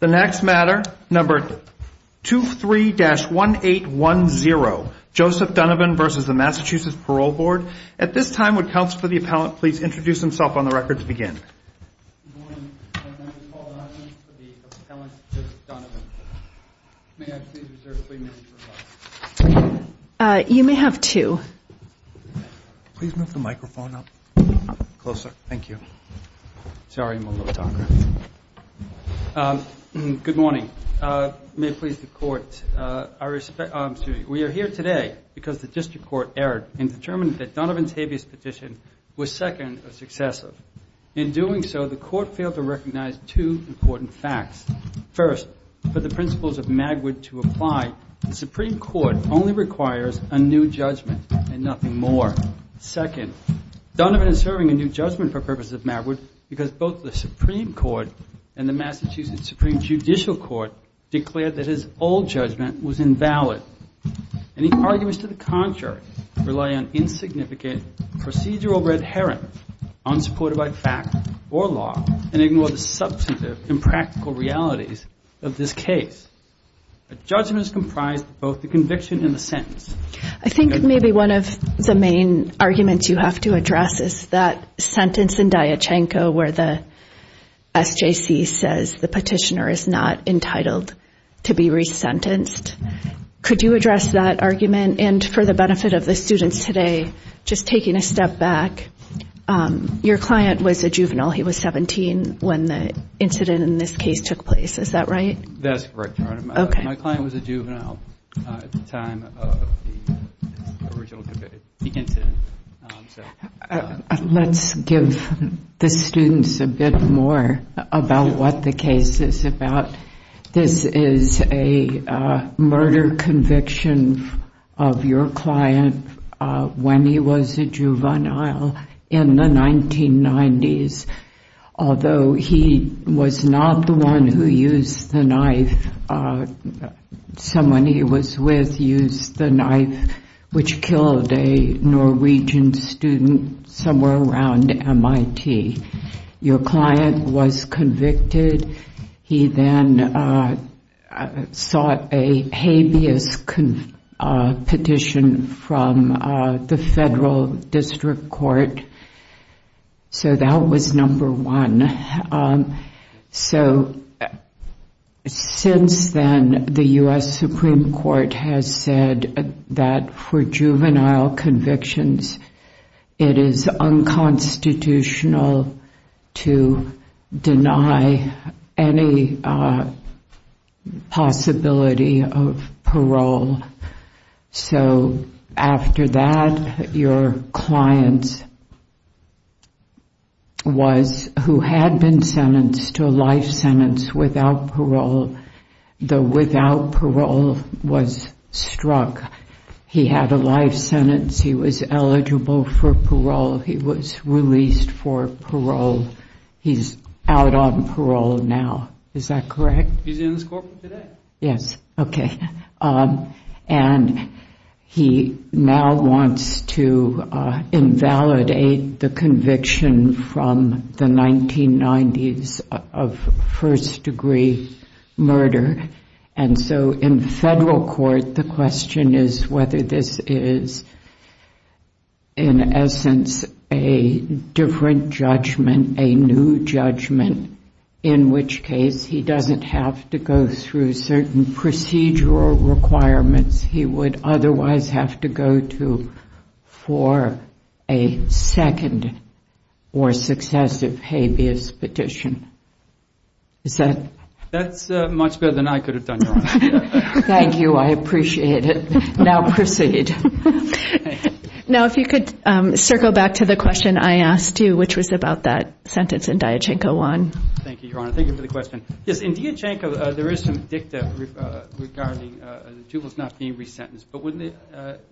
The next matter, number 23-1810, Joseph Donovan v. the Massachusetts Parole Board. At this time, would counsel for the appellant please introduce himself on the record to begin? Good morning. My name is Paul Donovan, for the appellant, Joseph Donovan. May I please reserve three minutes for questions? You may have two. Please move the microphone up, closer. Thank you. Sorry, I'm a little talker. Good morning. May it please the Court, we are here today because the District Court erred in determining that Donovan's habeas petition was second or successive. In doing so, the Court failed to recognize two important facts. First, for the principles of Magwood to apply, the Supreme Court only requires a new judgment and nothing more. Second, Donovan is serving a new judgment for purposes of Magwood because both the Supreme Court and the Massachusetts Supreme Judicial Court declared that his old judgment was invalid. And he argues to the contrary, rely on insignificant procedural red herring, unsupported by fact or law, and ignore the substantive and practical realities of this case. A judgment is comprised of both the conviction and the sentence. I think maybe one of the main arguments you have to address is that sentence in Diachenko where the SJC says the petitioner is not entitled to be resentenced. Could you address that argument? And for the benefit of the students today, just taking a step back, your client was a juvenile. He was 17 when the incident in this case took place. Is that right? That's correct, Your Honor. My client was a juvenile at the time of the original debate. Let's give the students a bit more about what the case is about. This is a murder conviction of your client when he was a juvenile in the 1990s, although he was not the one who used the knife. Someone he was with used the knife, which killed a Norwegian student somewhere around MIT. Your client was convicted. He then sought a habeas petition from the Federal District Court. So that was number one. Since then, the U.S. Supreme Court has said that for juvenile convictions, it is unconstitutional to deny any possibility of parole. So after that, your client, who had been sentenced to a life sentence without parole, though without parole, was struck. He had a life sentence. He was eligible for parole. He was released for parole. He's out on parole now. Is that correct? He's in this courtroom today. Yes. Okay. And he now wants to invalidate the conviction from the 1990s of first-degree murder. And so in federal court, the question is whether this is, in essence, a different judgment, a new judgment, in which case he doesn't have to go through certain procedural requirements he would otherwise have to go to for a second or successive habeas petition. Is that it? That's much better than I could have done, Your Honor. Thank you. I appreciate it. Now proceed. Now, if you could circle back to the question I asked you, which was about that sentence in Diachenko 1. Thank you, Your Honor. Thank you for the question. Yes, in Diachenko, there is some dicta regarding the juveniles not being resentenced. But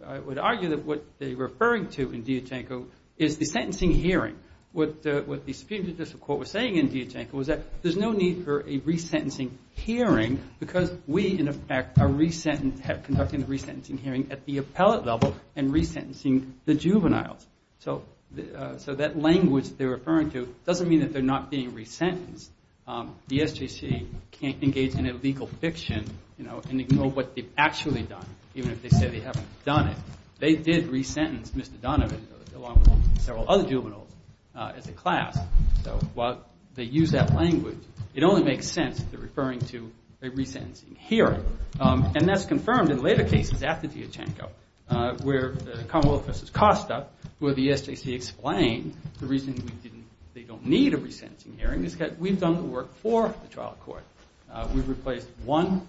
I would argue that what they're referring to in Diachenko is the sentencing hearing. What the Supreme Judicial Court was saying in Diachenko was that there's no need for a resentencing hearing because we, in effect, are conducting the resentencing hearing at the appellate level and resentencing the juveniles. So that language they're referring to doesn't mean that they're not being resentenced. The SJC can't engage in illegal fiction and ignore what they've actually done, even if they say they haven't done it. They did resentence Mr. Donovan, along with several other juveniles, as a class. So while they use that language, it only makes sense that they're referring to a resentencing hearing. And that's confirmed in later cases after Diachenko, where Commonwealth v. Costa, where the SJC explained the reason they don't need a resentencing hearing is that we've done the work for the trial court. We've replaced one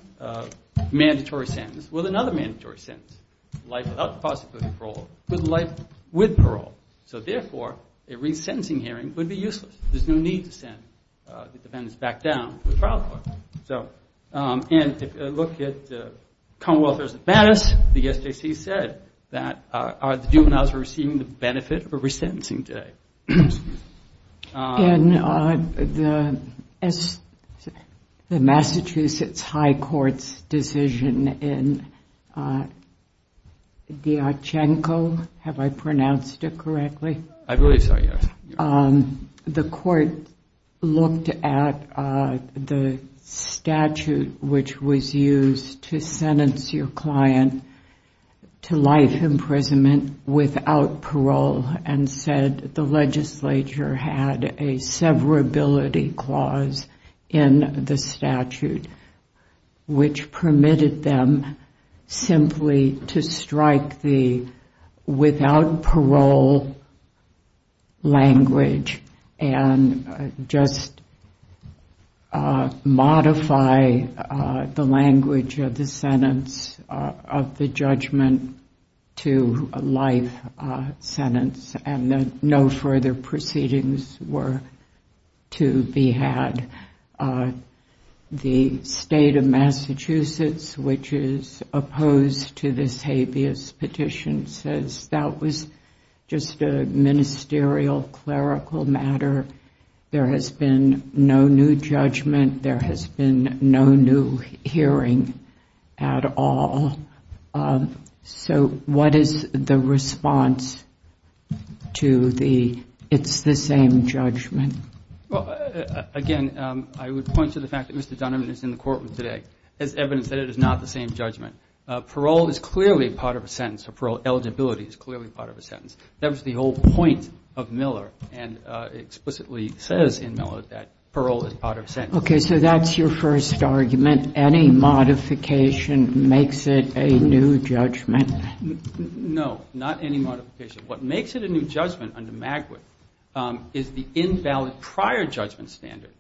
mandatory sentence with another mandatory sentence. Life without the possibility of parole with life with parole. So, therefore, a resentencing hearing would be useless. There's no need to send the defendants back down to the trial court. And if you look at the Commonwealth v. Battis, the SJC said that the juveniles are receiving the benefit of a resentencing today. In the Massachusetts High Court's decision in Diachenko, have I pronounced it correctly? I believe so, yes. The court looked at the statute which was used to sentence your client to life imprisonment without parole and said the legislature had a severability clause in the statute, which permitted them simply to strike the without parole language and just modify the language of the sentence of the judgment to a life sentence and that no further proceedings were to be had. The state of Massachusetts, which is opposed to this habeas petition, says that was just a ministerial clerical matter. There has been no new judgment. There has been no new hearing at all. So what is the response to the it's the same judgment? Well, again, I would point to the fact that Mr. Donovan is in the courtroom today as evidence that it is not the same judgment. Parole is clearly part of a sentence. Parole eligibility is clearly part of a sentence. That was the whole point of Miller and explicitly says in Miller that parole is part of a sentence. Okay, so that's your first argument. Any modification makes it a new judgment. No, not any modification. What makes it a new judgment under MAGWIP is the invalid prior judgment standard.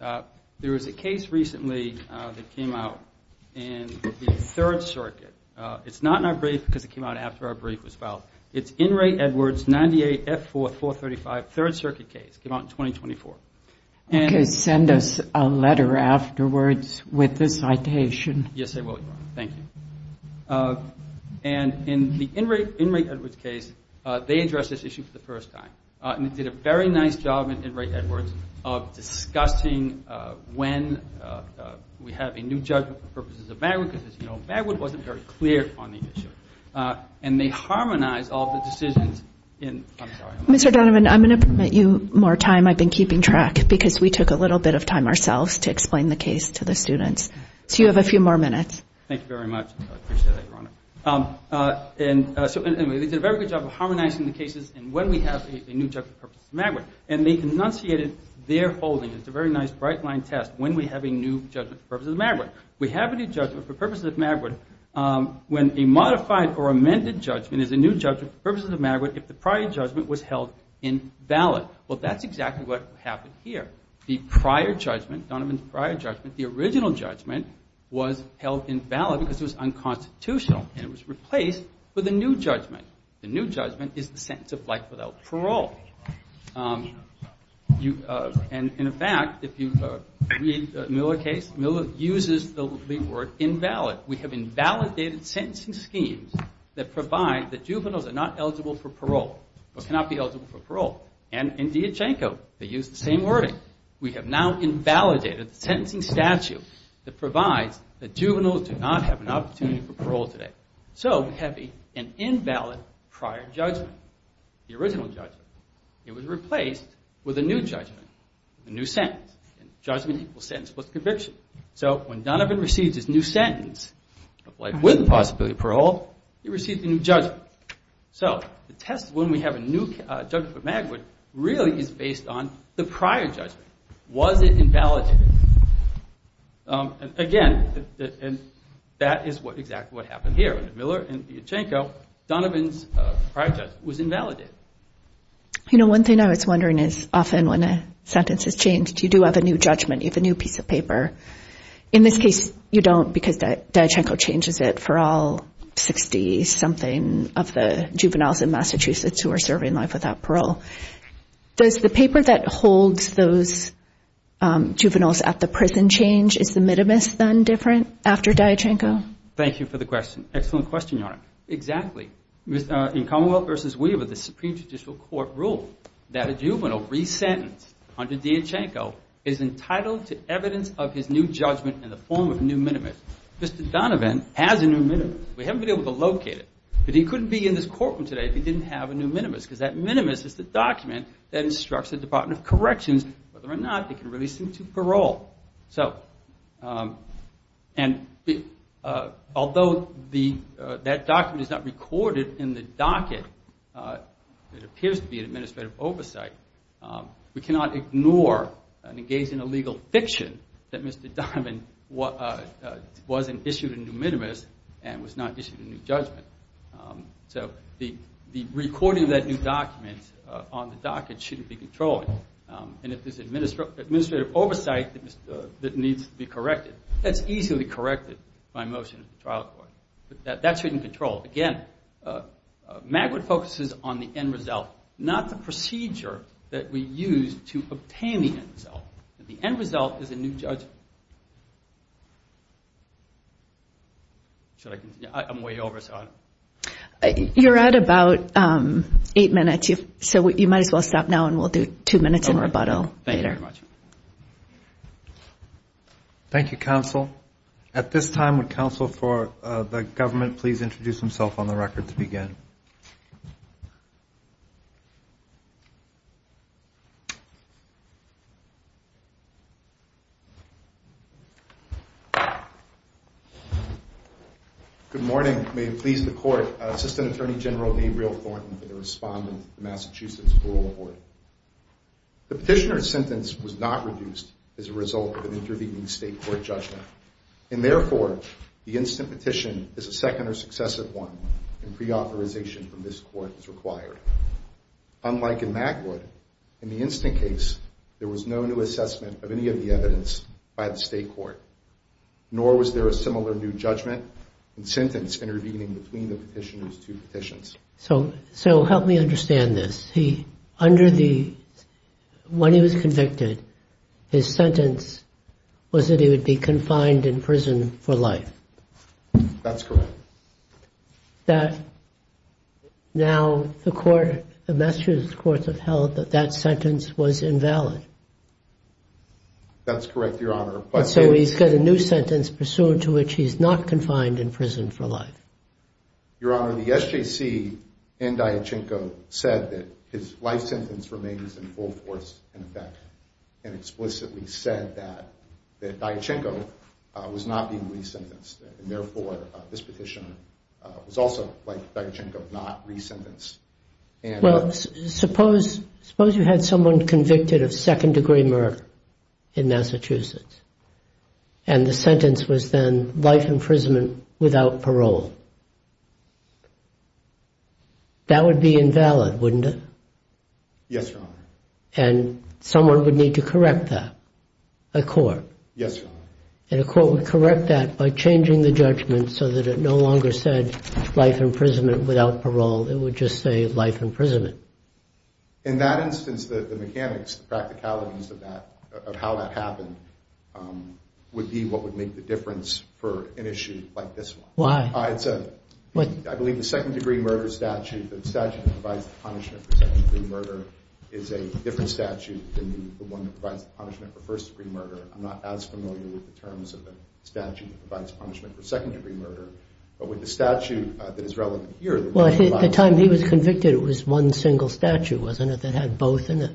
There was a case recently that came out in the Third Circuit. It's not in our brief because it came out after our brief was filed. It's Inmate Edwards, 98F4, 435, Third Circuit case, came out in 2024. Okay, send us a letter afterwards with the citation. Yes, I will, Your Honor. Thank you. And in the Inmate Edwards case, they addressed this issue for the first time. And they did a very nice job in Inmate Edwards of discussing when we have a new judgment for purposes of MAGWIP because, as you know, MAGWIP wasn't very clear on the issue. And they harmonized all the decisions in the trial. Mr. Donovan, I'm going to permit you more time. I've been keeping track because we took a little bit of time ourselves to explain the case to the students. So you have a few more minutes. Thank you very much. I appreciate that, Your Honor. And so anyway, they did a very good job of harmonizing the cases and when we have a new judgment for purposes of MAGWIP. And they enunciated their holding. It's a very nice bright-line test, when we have a new judgment for purposes of MAGWIP. We have a new judgment for purposes of MAGWIP when a modified or amended judgment is a new judgment for purposes of MAGWIP if the prior judgment was held invalid. Well, that's exactly what happened here. The prior judgment, Donovan's prior judgment, the original judgment was held invalid because it was unconstitutional and it was replaced with a new judgment. The new judgment is the sentence of life without parole. And in fact, if you read Miller's case, Miller uses the word invalid. We have invalidated sentencing schemes that provide that juveniles are not eligible for parole or cannot be eligible for parole. And in Dijanko, they use the same wording. We have now invalidated the sentencing statute that provides that juveniles do not have an opportunity for parole today. So we have an invalid prior judgment, the original judgment. It was replaced with a new judgment, a new sentence. Judgment equals sentence plus conviction. So when Donovan receives his new sentence of life with possibility of parole, he receives a new judgment. So the test when we have a new judgment for MAGWIP really is based on the prior judgment. Was it invalidated? Again, that is exactly what happened here. Miller and Dijanko, Donovan's prior judgment was invalidated. You know, one thing I was wondering is often when a sentence is changed, you do have a new judgment. You have a new piece of paper. In this case, you don't because Dijanko changes it for all 60-something of the juveniles in Massachusetts who are serving life without parole. Does the paper that holds those juveniles at the prison change? Is the minimus then different after Dijanko? Thank you for the question. Excellent question, Your Honor. Exactly. In Commonwealth v. Weaver, the Supreme Judicial Court ruled that a juvenile resentenced under Dijanko is entitled to evidence of his new judgment in the form of a new minimus. Mr. Donovan has a new minimus. We haven't been able to locate it. But he couldn't be in this courtroom today if he didn't have a new minimus because that minimus is the document that instructs the Department of Corrections whether or not they can release him to parole. Although that document is not recorded in the docket, it appears to be an administrative oversight, we cannot ignore and engage in illegal fiction that Mr. Donovan wasn't issued a new minimus and was not issued a new judgment. So the recording of that new document on the docket shouldn't be controlled. And if there's administrative oversight that needs to be corrected, that's easily corrected by motion of the trial court. That shouldn't be controlled. Again, MAGWED focuses on the end result, not the procedure that we use to obtain the end result. The end result is a new judgment. Should I continue? I'm way over, so I don't know. You're at about eight minutes, so you might as well stop now and we'll do two minutes in rebuttal later. Thank you very much. Thank you, counsel. At this time, would counsel for the government please introduce himself on the record to begin? Good morning. May it please the court, Assistant Attorney General Gabriel Thornton for the respondent of the Massachusetts Rural Board. The petitioner's sentence was not reduced as a result of an intervening state court judgment. And therefore, the instant petition is a second or successive one and preauthorization from this court is required. Unlike in MAGWED, in the instant case, there was no new assessment of any of the evidence by the state court. Nor was there a similar new judgment and sentence intervening between the petitioner's two petitions. So help me understand this. Under the – when he was convicted, his sentence was that he would be confined in prison for life. That's correct. Now the Massachusetts courts have held that that sentence was invalid. That's correct, Your Honor. And so he's got a new sentence pursuant to which he's not confined in prison for life. Your Honor, the SJC and Diachenko said that his life sentence remains in full force, in effect, and explicitly said that Diachenko was not being re-sentenced. And therefore, this petitioner was also, like Diachenko, not re-sentenced. Well, suppose you had someone convicted of second-degree murder in Massachusetts and the sentence was then life imprisonment without parole. That would be invalid, wouldn't it? Yes, Your Honor. And someone would need to correct that, a court. Yes, Your Honor. And a court would correct that by changing the judgment so that it no longer said life imprisonment without parole. It would just say life imprisonment. In that instance, the mechanics, the practicalities of how that happened would be what would make the difference for an issue like this one. Why? I believe the second-degree murder statute, the statute that provides the punishment for second-degree murder, is a different statute than the one that provides the punishment for first-degree murder. I'm not as familiar with the terms of the statute that provides punishment for second-degree murder. But with the statute that is relevant here that provides it. Well, at the time he was convicted, it was one single statute, wasn't it, that had both in it?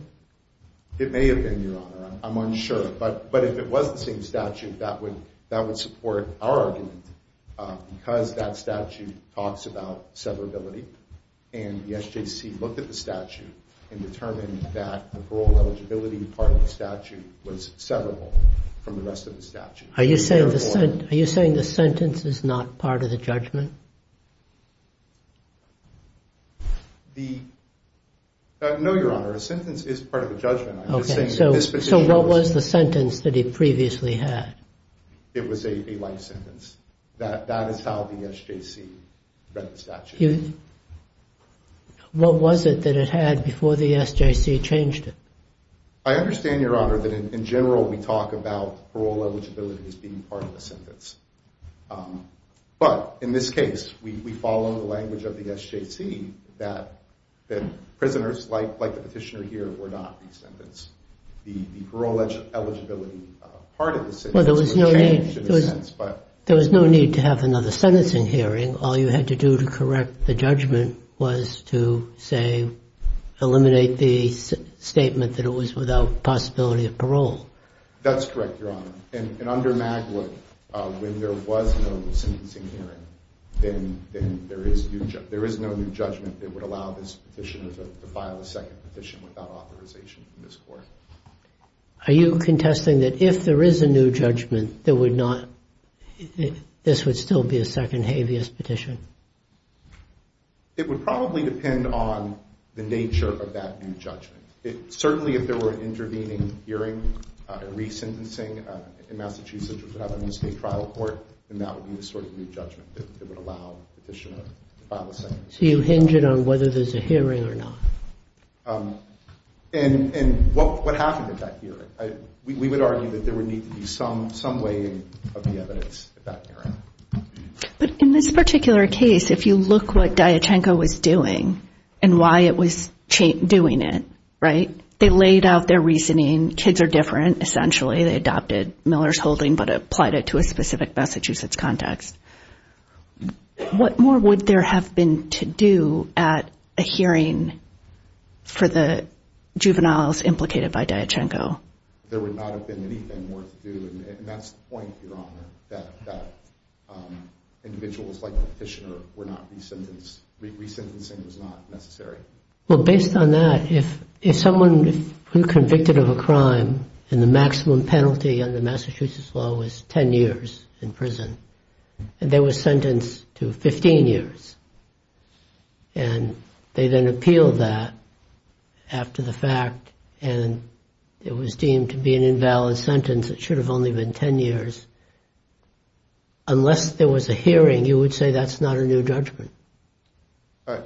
It may have been, Your Honor. I'm unsure. But if it was the same statute, that would support our argument because that statute talks about severability. And the SJC looked at the statute and determined that the parole eligibility part of the statute was severable from the rest of the statute. Are you saying the sentence is not part of the judgment? No, Your Honor. A sentence is part of the judgment. So what was the sentence that he previously had? It was a life sentence. That is how the SJC read the statute. What was it that it had before the SJC changed it? I understand, Your Honor, that in general we talk about parole eligibility as being part of the sentence. But in this case, we follow the language of the SJC that prisoners like the petitioner here were not the sentence. The parole eligibility part of the sentence was changed in a sense. There was no need to have another sentencing hearing. Are you saying all you had to do to correct the judgment was to, say, eliminate the statement that it was without possibility of parole? That's correct, Your Honor. And under Magler, when there was no sentencing hearing, then there is no new judgment that would allow this petitioner to file a second petition without authorization from this court. Are you contesting that if there is a new judgment, this would still be a second habeas petition? It would probably depend on the nature of that new judgment. Certainly, if there were an intervening hearing, a re-sentencing in Massachusetts without a state trial court, then that would be the sort of new judgment that would allow the petitioner to file a second. So you hinge it on whether there's a hearing or not. And what happened at that hearing? We would argue that there would need to be some way of the evidence at that hearing. But in this particular case, if you look what Diachenko was doing and why it was doing it, right, they laid out their reasoning. Kids are different, essentially. They adopted Miller's holding but applied it to a specific Massachusetts context. What more would there have been to do at a hearing for the juveniles implicated by Diachenko? There would not have been anything more to do. And that's the point, Your Honor, that individuals like the petitioner were not re-sentenced. Re-sentencing was not necessary. Well, based on that, if someone who was convicted of a crime and the maximum penalty under Massachusetts law was 10 years in prison and they were sentenced to 15 years, and they then appealed that after the fact and it was deemed to be an invalid sentence, it should have only been 10 years, unless there was a hearing, you would say that's not a new judgment?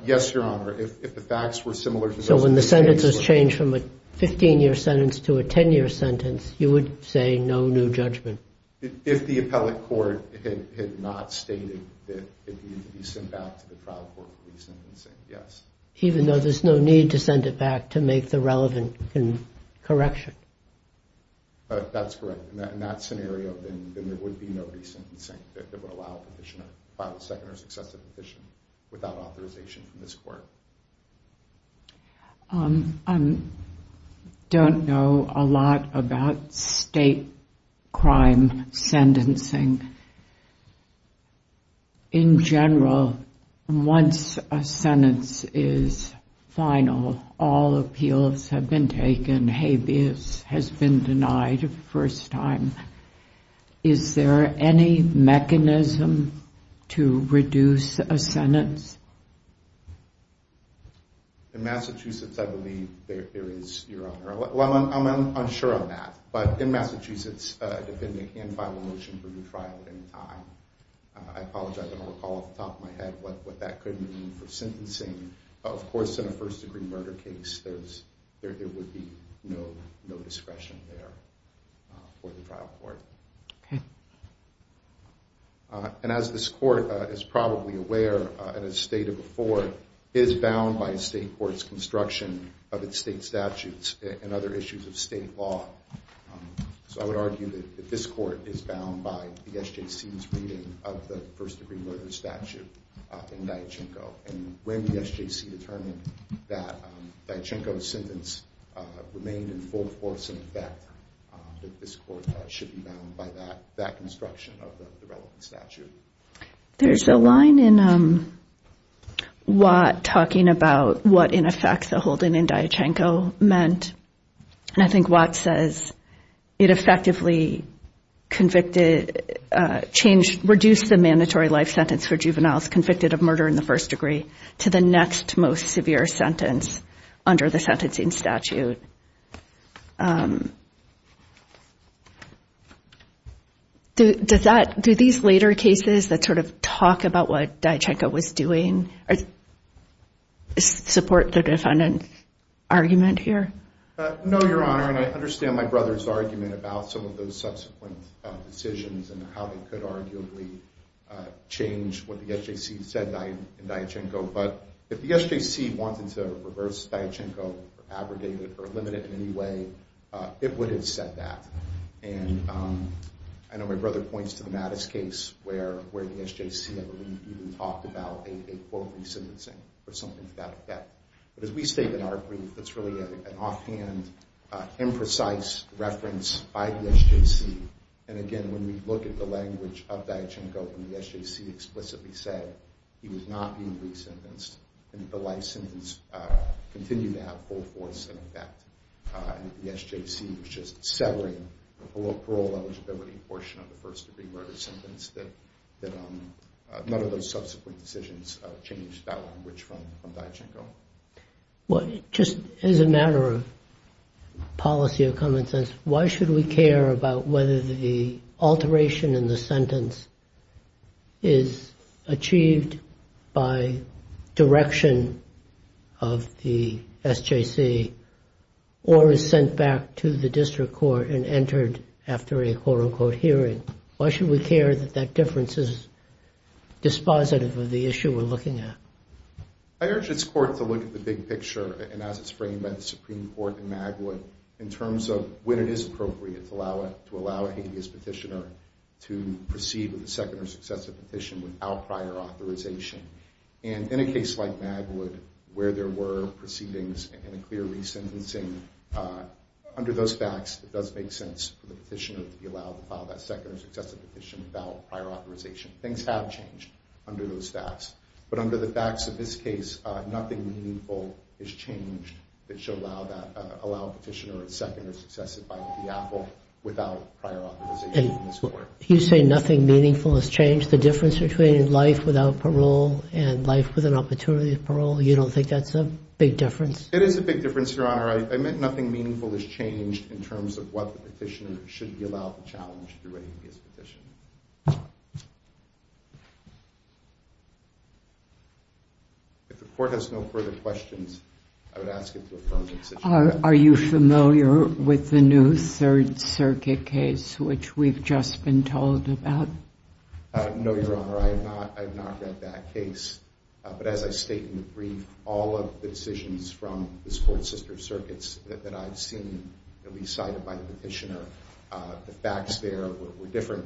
Yes, Your Honor. If the facts were similar to those in the case... So when the sentence was changed from a 15-year sentence to a 10-year sentence, you would say no new judgment? If the appellate court had not stated that it needed to be sent back to the trial court for re-sentencing, yes. Even though there's no need to send it back to make the relevant correction? That's correct. In that scenario, then there would be no re-sentencing that would allow a petitioner to file a second or successive petition without authorization from this court. I don't know a lot about state crime sentencing. In general, once a sentence is final, all appeals have been taken, habeas has been denied the first time. Is there any mechanism to reduce a sentence? In Massachusetts, I believe there is, Your Honor. I'm unsure on that, but in Massachusetts, a defendant can file a motion for retrial at any time. I apologize, I don't recall off the top of my head what that could mean for sentencing. Of course, in a first-degree murder case, there would be no discretion there for the trial court. As this court is probably aware, and as stated before, it is bound by state court's construction of its state statutes and other issues of state law. So I would argue that this court is bound by the SJC's reading of the first-degree murder statute in Diachenko. And when the SJC determined that Diachenko's sentence remained in full force and in effect, that this court should be bound by that construction of the relevant statute. There's a line in Watt talking about what, in effect, the holding in Diachenko meant. And I think Watt says it effectively reduced the mandatory life sentence for juveniles convicted of murder in the first degree. To the next most severe sentence under the sentencing statute. Do these later cases that sort of talk about what Diachenko was doing support the defendant's argument here? No, Your Honor, and I understand my brother's argument about some of those subsequent decisions and how they could arguably change what the SJC said in Diachenko. But if the SJC wanted to reverse Diachenko or abrogate it or limit it in any way, it would have said that. And I know my brother points to the Mattis case where the SJC, I believe, even talked about a quote resentencing or something to that effect. But as we state in our brief, it's really an offhand, imprecise reference by the SJC. And again, when we look at the language of Diachenko, when the SJC explicitly said he was not being re-sentenced, the life sentence continued to have full force in effect. The SJC was just severing the parole eligibility portion of the first degree murder sentence. None of those subsequent decisions changed that language from Diachenko. Well, just as a matter of policy of common sense, why should we care about whether the alteration in the sentence is achieved by direction of the SJC or is sent back to the district court and entered after a quote unquote hearing? Why should we care that that difference is dispositive of the issue we're looking at? I urge this court to look at the big picture, and as it's framed by the Supreme Court in Magwood, in terms of when it is appropriate to allow a habeas petitioner to proceed with a second or successive petition without prior authorization. And in a case like Magwood, where there were proceedings and a clear re-sentencing, under those facts, it does make sense for the petitioner to be allowed to file that second or successive petition without prior authorization. Things have changed under those facts, but under the facts of this case, nothing meaningful has changed that should allow a petitioner a second or successive filing of the Apple without prior authorization from this court. And you say nothing meaningful has changed? The difference between life without parole and life with an opportunity to parole, you don't think that's a big difference? It is a big difference, Your Honor. I meant nothing meaningful has changed in terms of what the petitioner should be allowed to challenge through a habeas petition. If the court has no further questions, I would ask you to affirm the decision. Are you familiar with the new Third Circuit case, which we've just been told about? No, Your Honor. I have not read that case. But as I state in the brief, all of the decisions from this Court's sister circuits that I've seen that we cited by the petitioner, the facts there were different.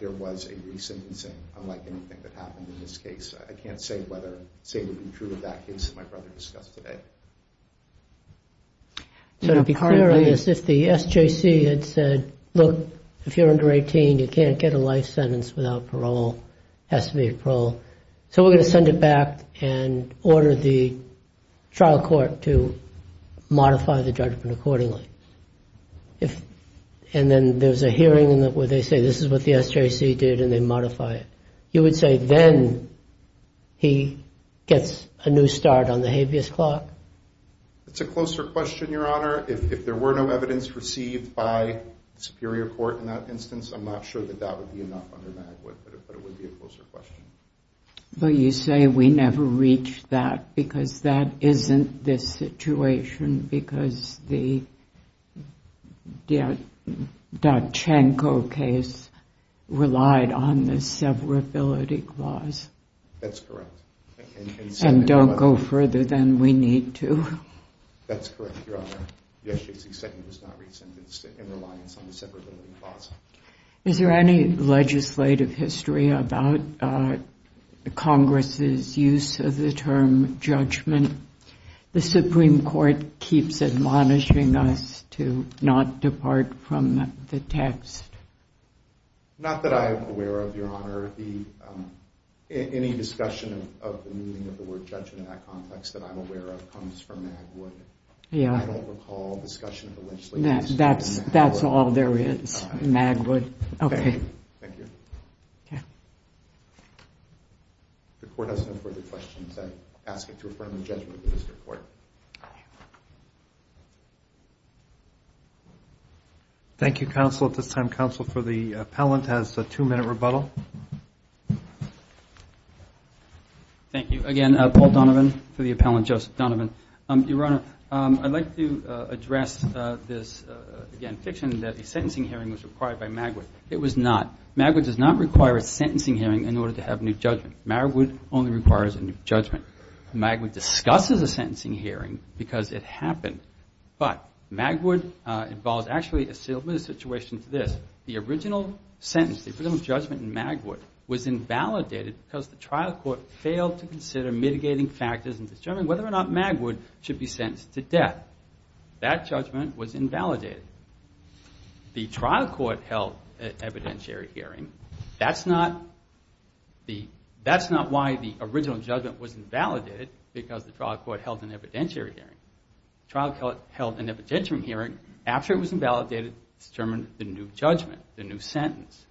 There was a re-sentencing, unlike anything that happened in this case. I can't say whether it would be true of that case that my brother discussed today. So to be clear on this, if the SJC had said, look, if you're under 18, you can't get a life sentence without parole. It has to be a parole. So we're going to send it back and order the trial court to modify the judgment accordingly. And then there's a hearing where they say this is what the SJC did and they modify it. You would say then he gets a new start on the habeas clock? It's a closer question, Your Honor. If there were no evidence received by the Superior Court in that instance, I'm not sure that that would be enough under Magwood, but it would be a closer question. But you say we never reached that because that isn't this situation because the Dachanko case relied on the severability clause. That's correct. And don't go further than we need to. That's correct, Your Honor. The SJC sentence was not re-sentenced in reliance on the severability clause. Is there any legislative history about Congress's use of the term judgment? The Supreme Court keeps admonishing us to not depart from the text. Not that I'm aware of, Your Honor. Any discussion of the meaning of the word judgment in that context that I'm aware of comes from Magwood. I don't recall discussion of the legislative history in Magwood. That's all there is. Magwood. Thank you. Thank you, counsel. At this time, counsel for the appellant has a two-minute rebuttal. Thank you. Again, Paul Donovan for the appellant, Joseph Donovan. Your Honor, I'd like to address this, again, fiction that a sentencing hearing was required by Magwood. It was not. Magwood does not require a sentencing hearing in order to have a new judgment. Magwood discusses a sentencing hearing because it happened. But Magwood involves actually a similar situation to this. The original sentence, the original judgment in Magwood was invalidated because the trial court failed to consider mitigating factors in determining whether or not Magwood should be sentenced to death. That judgment was invalidated. The trial court held an evidentiary hearing. That's not why the original judgment was invalidated, because the trial court held an evidentiary hearing. The trial court held an evidentiary hearing. After it was invalidated, it was determined the new judgment, the new sentence.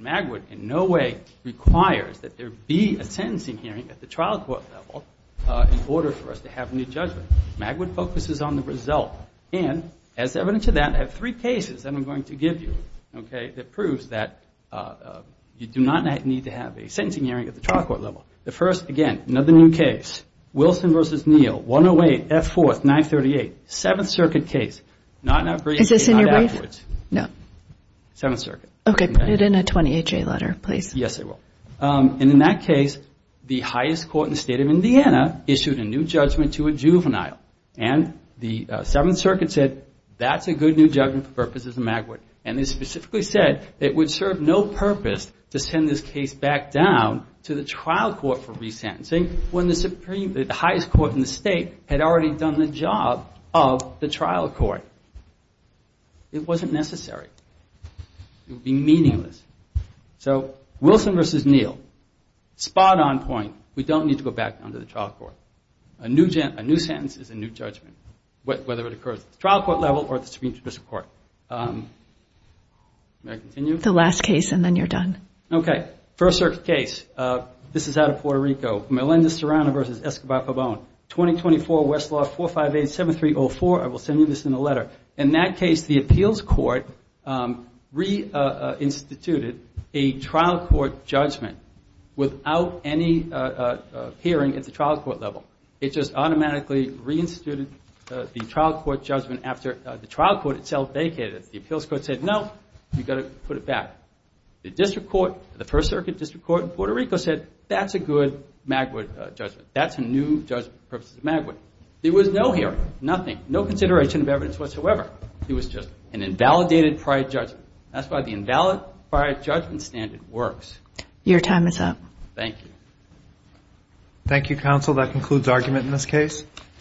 Magwood in no way requires that there be a sentencing hearing at the trial court level in order for us to have a new judgment. Magwood focuses on the result. And as evidence of that, I have three cases that I'm going to give you that proves that you do not need to have a sentencing hearing at the trial court level. The first, again, another new case, Wilson v. Neal, 108, F4, 938. Seventh Circuit case. Not in our briefing, not afterwards. And in that case, the highest court in the state of Indiana issued a new judgment to a juvenile. And the Seventh Circuit said, that's a good new judgment for purposes of Magwood. And they specifically said it would serve no purpose to send this case back down to the trial court for resentencing when the highest court in the state had already done the job of the trial court. It wasn't necessary. It would be meaningless. So Wilson v. Neal, spot on point. We don't need to go back down to the trial court. A new sentence is a new judgment, whether it occurs at the trial court level or at the Supreme Judicial Court. May I continue? The last case and then you're done. Okay. First Circuit case. This is out of Puerto Rico. Melendez-Serrano v. Escobar-Pabon, 2024 Westlaw 458-7304. I will send you this in a letter. In that case, the appeals court reinstituted a trial court judgment without any hearing at the trial court level. It just automatically reinstituted the trial court judgment after the trial court itself vacated. The appeals court said, no, you've got to put it back. The district court, the First Circuit district court in Puerto Rico said, that's a good Magwood judgment. That's a new judgment for purposes of Magwood. There was no hearing. Nothing. No consideration of evidence whatsoever. It was just an invalidated prior judgment. That's why the invalid prior judgment standard works. Your time is up.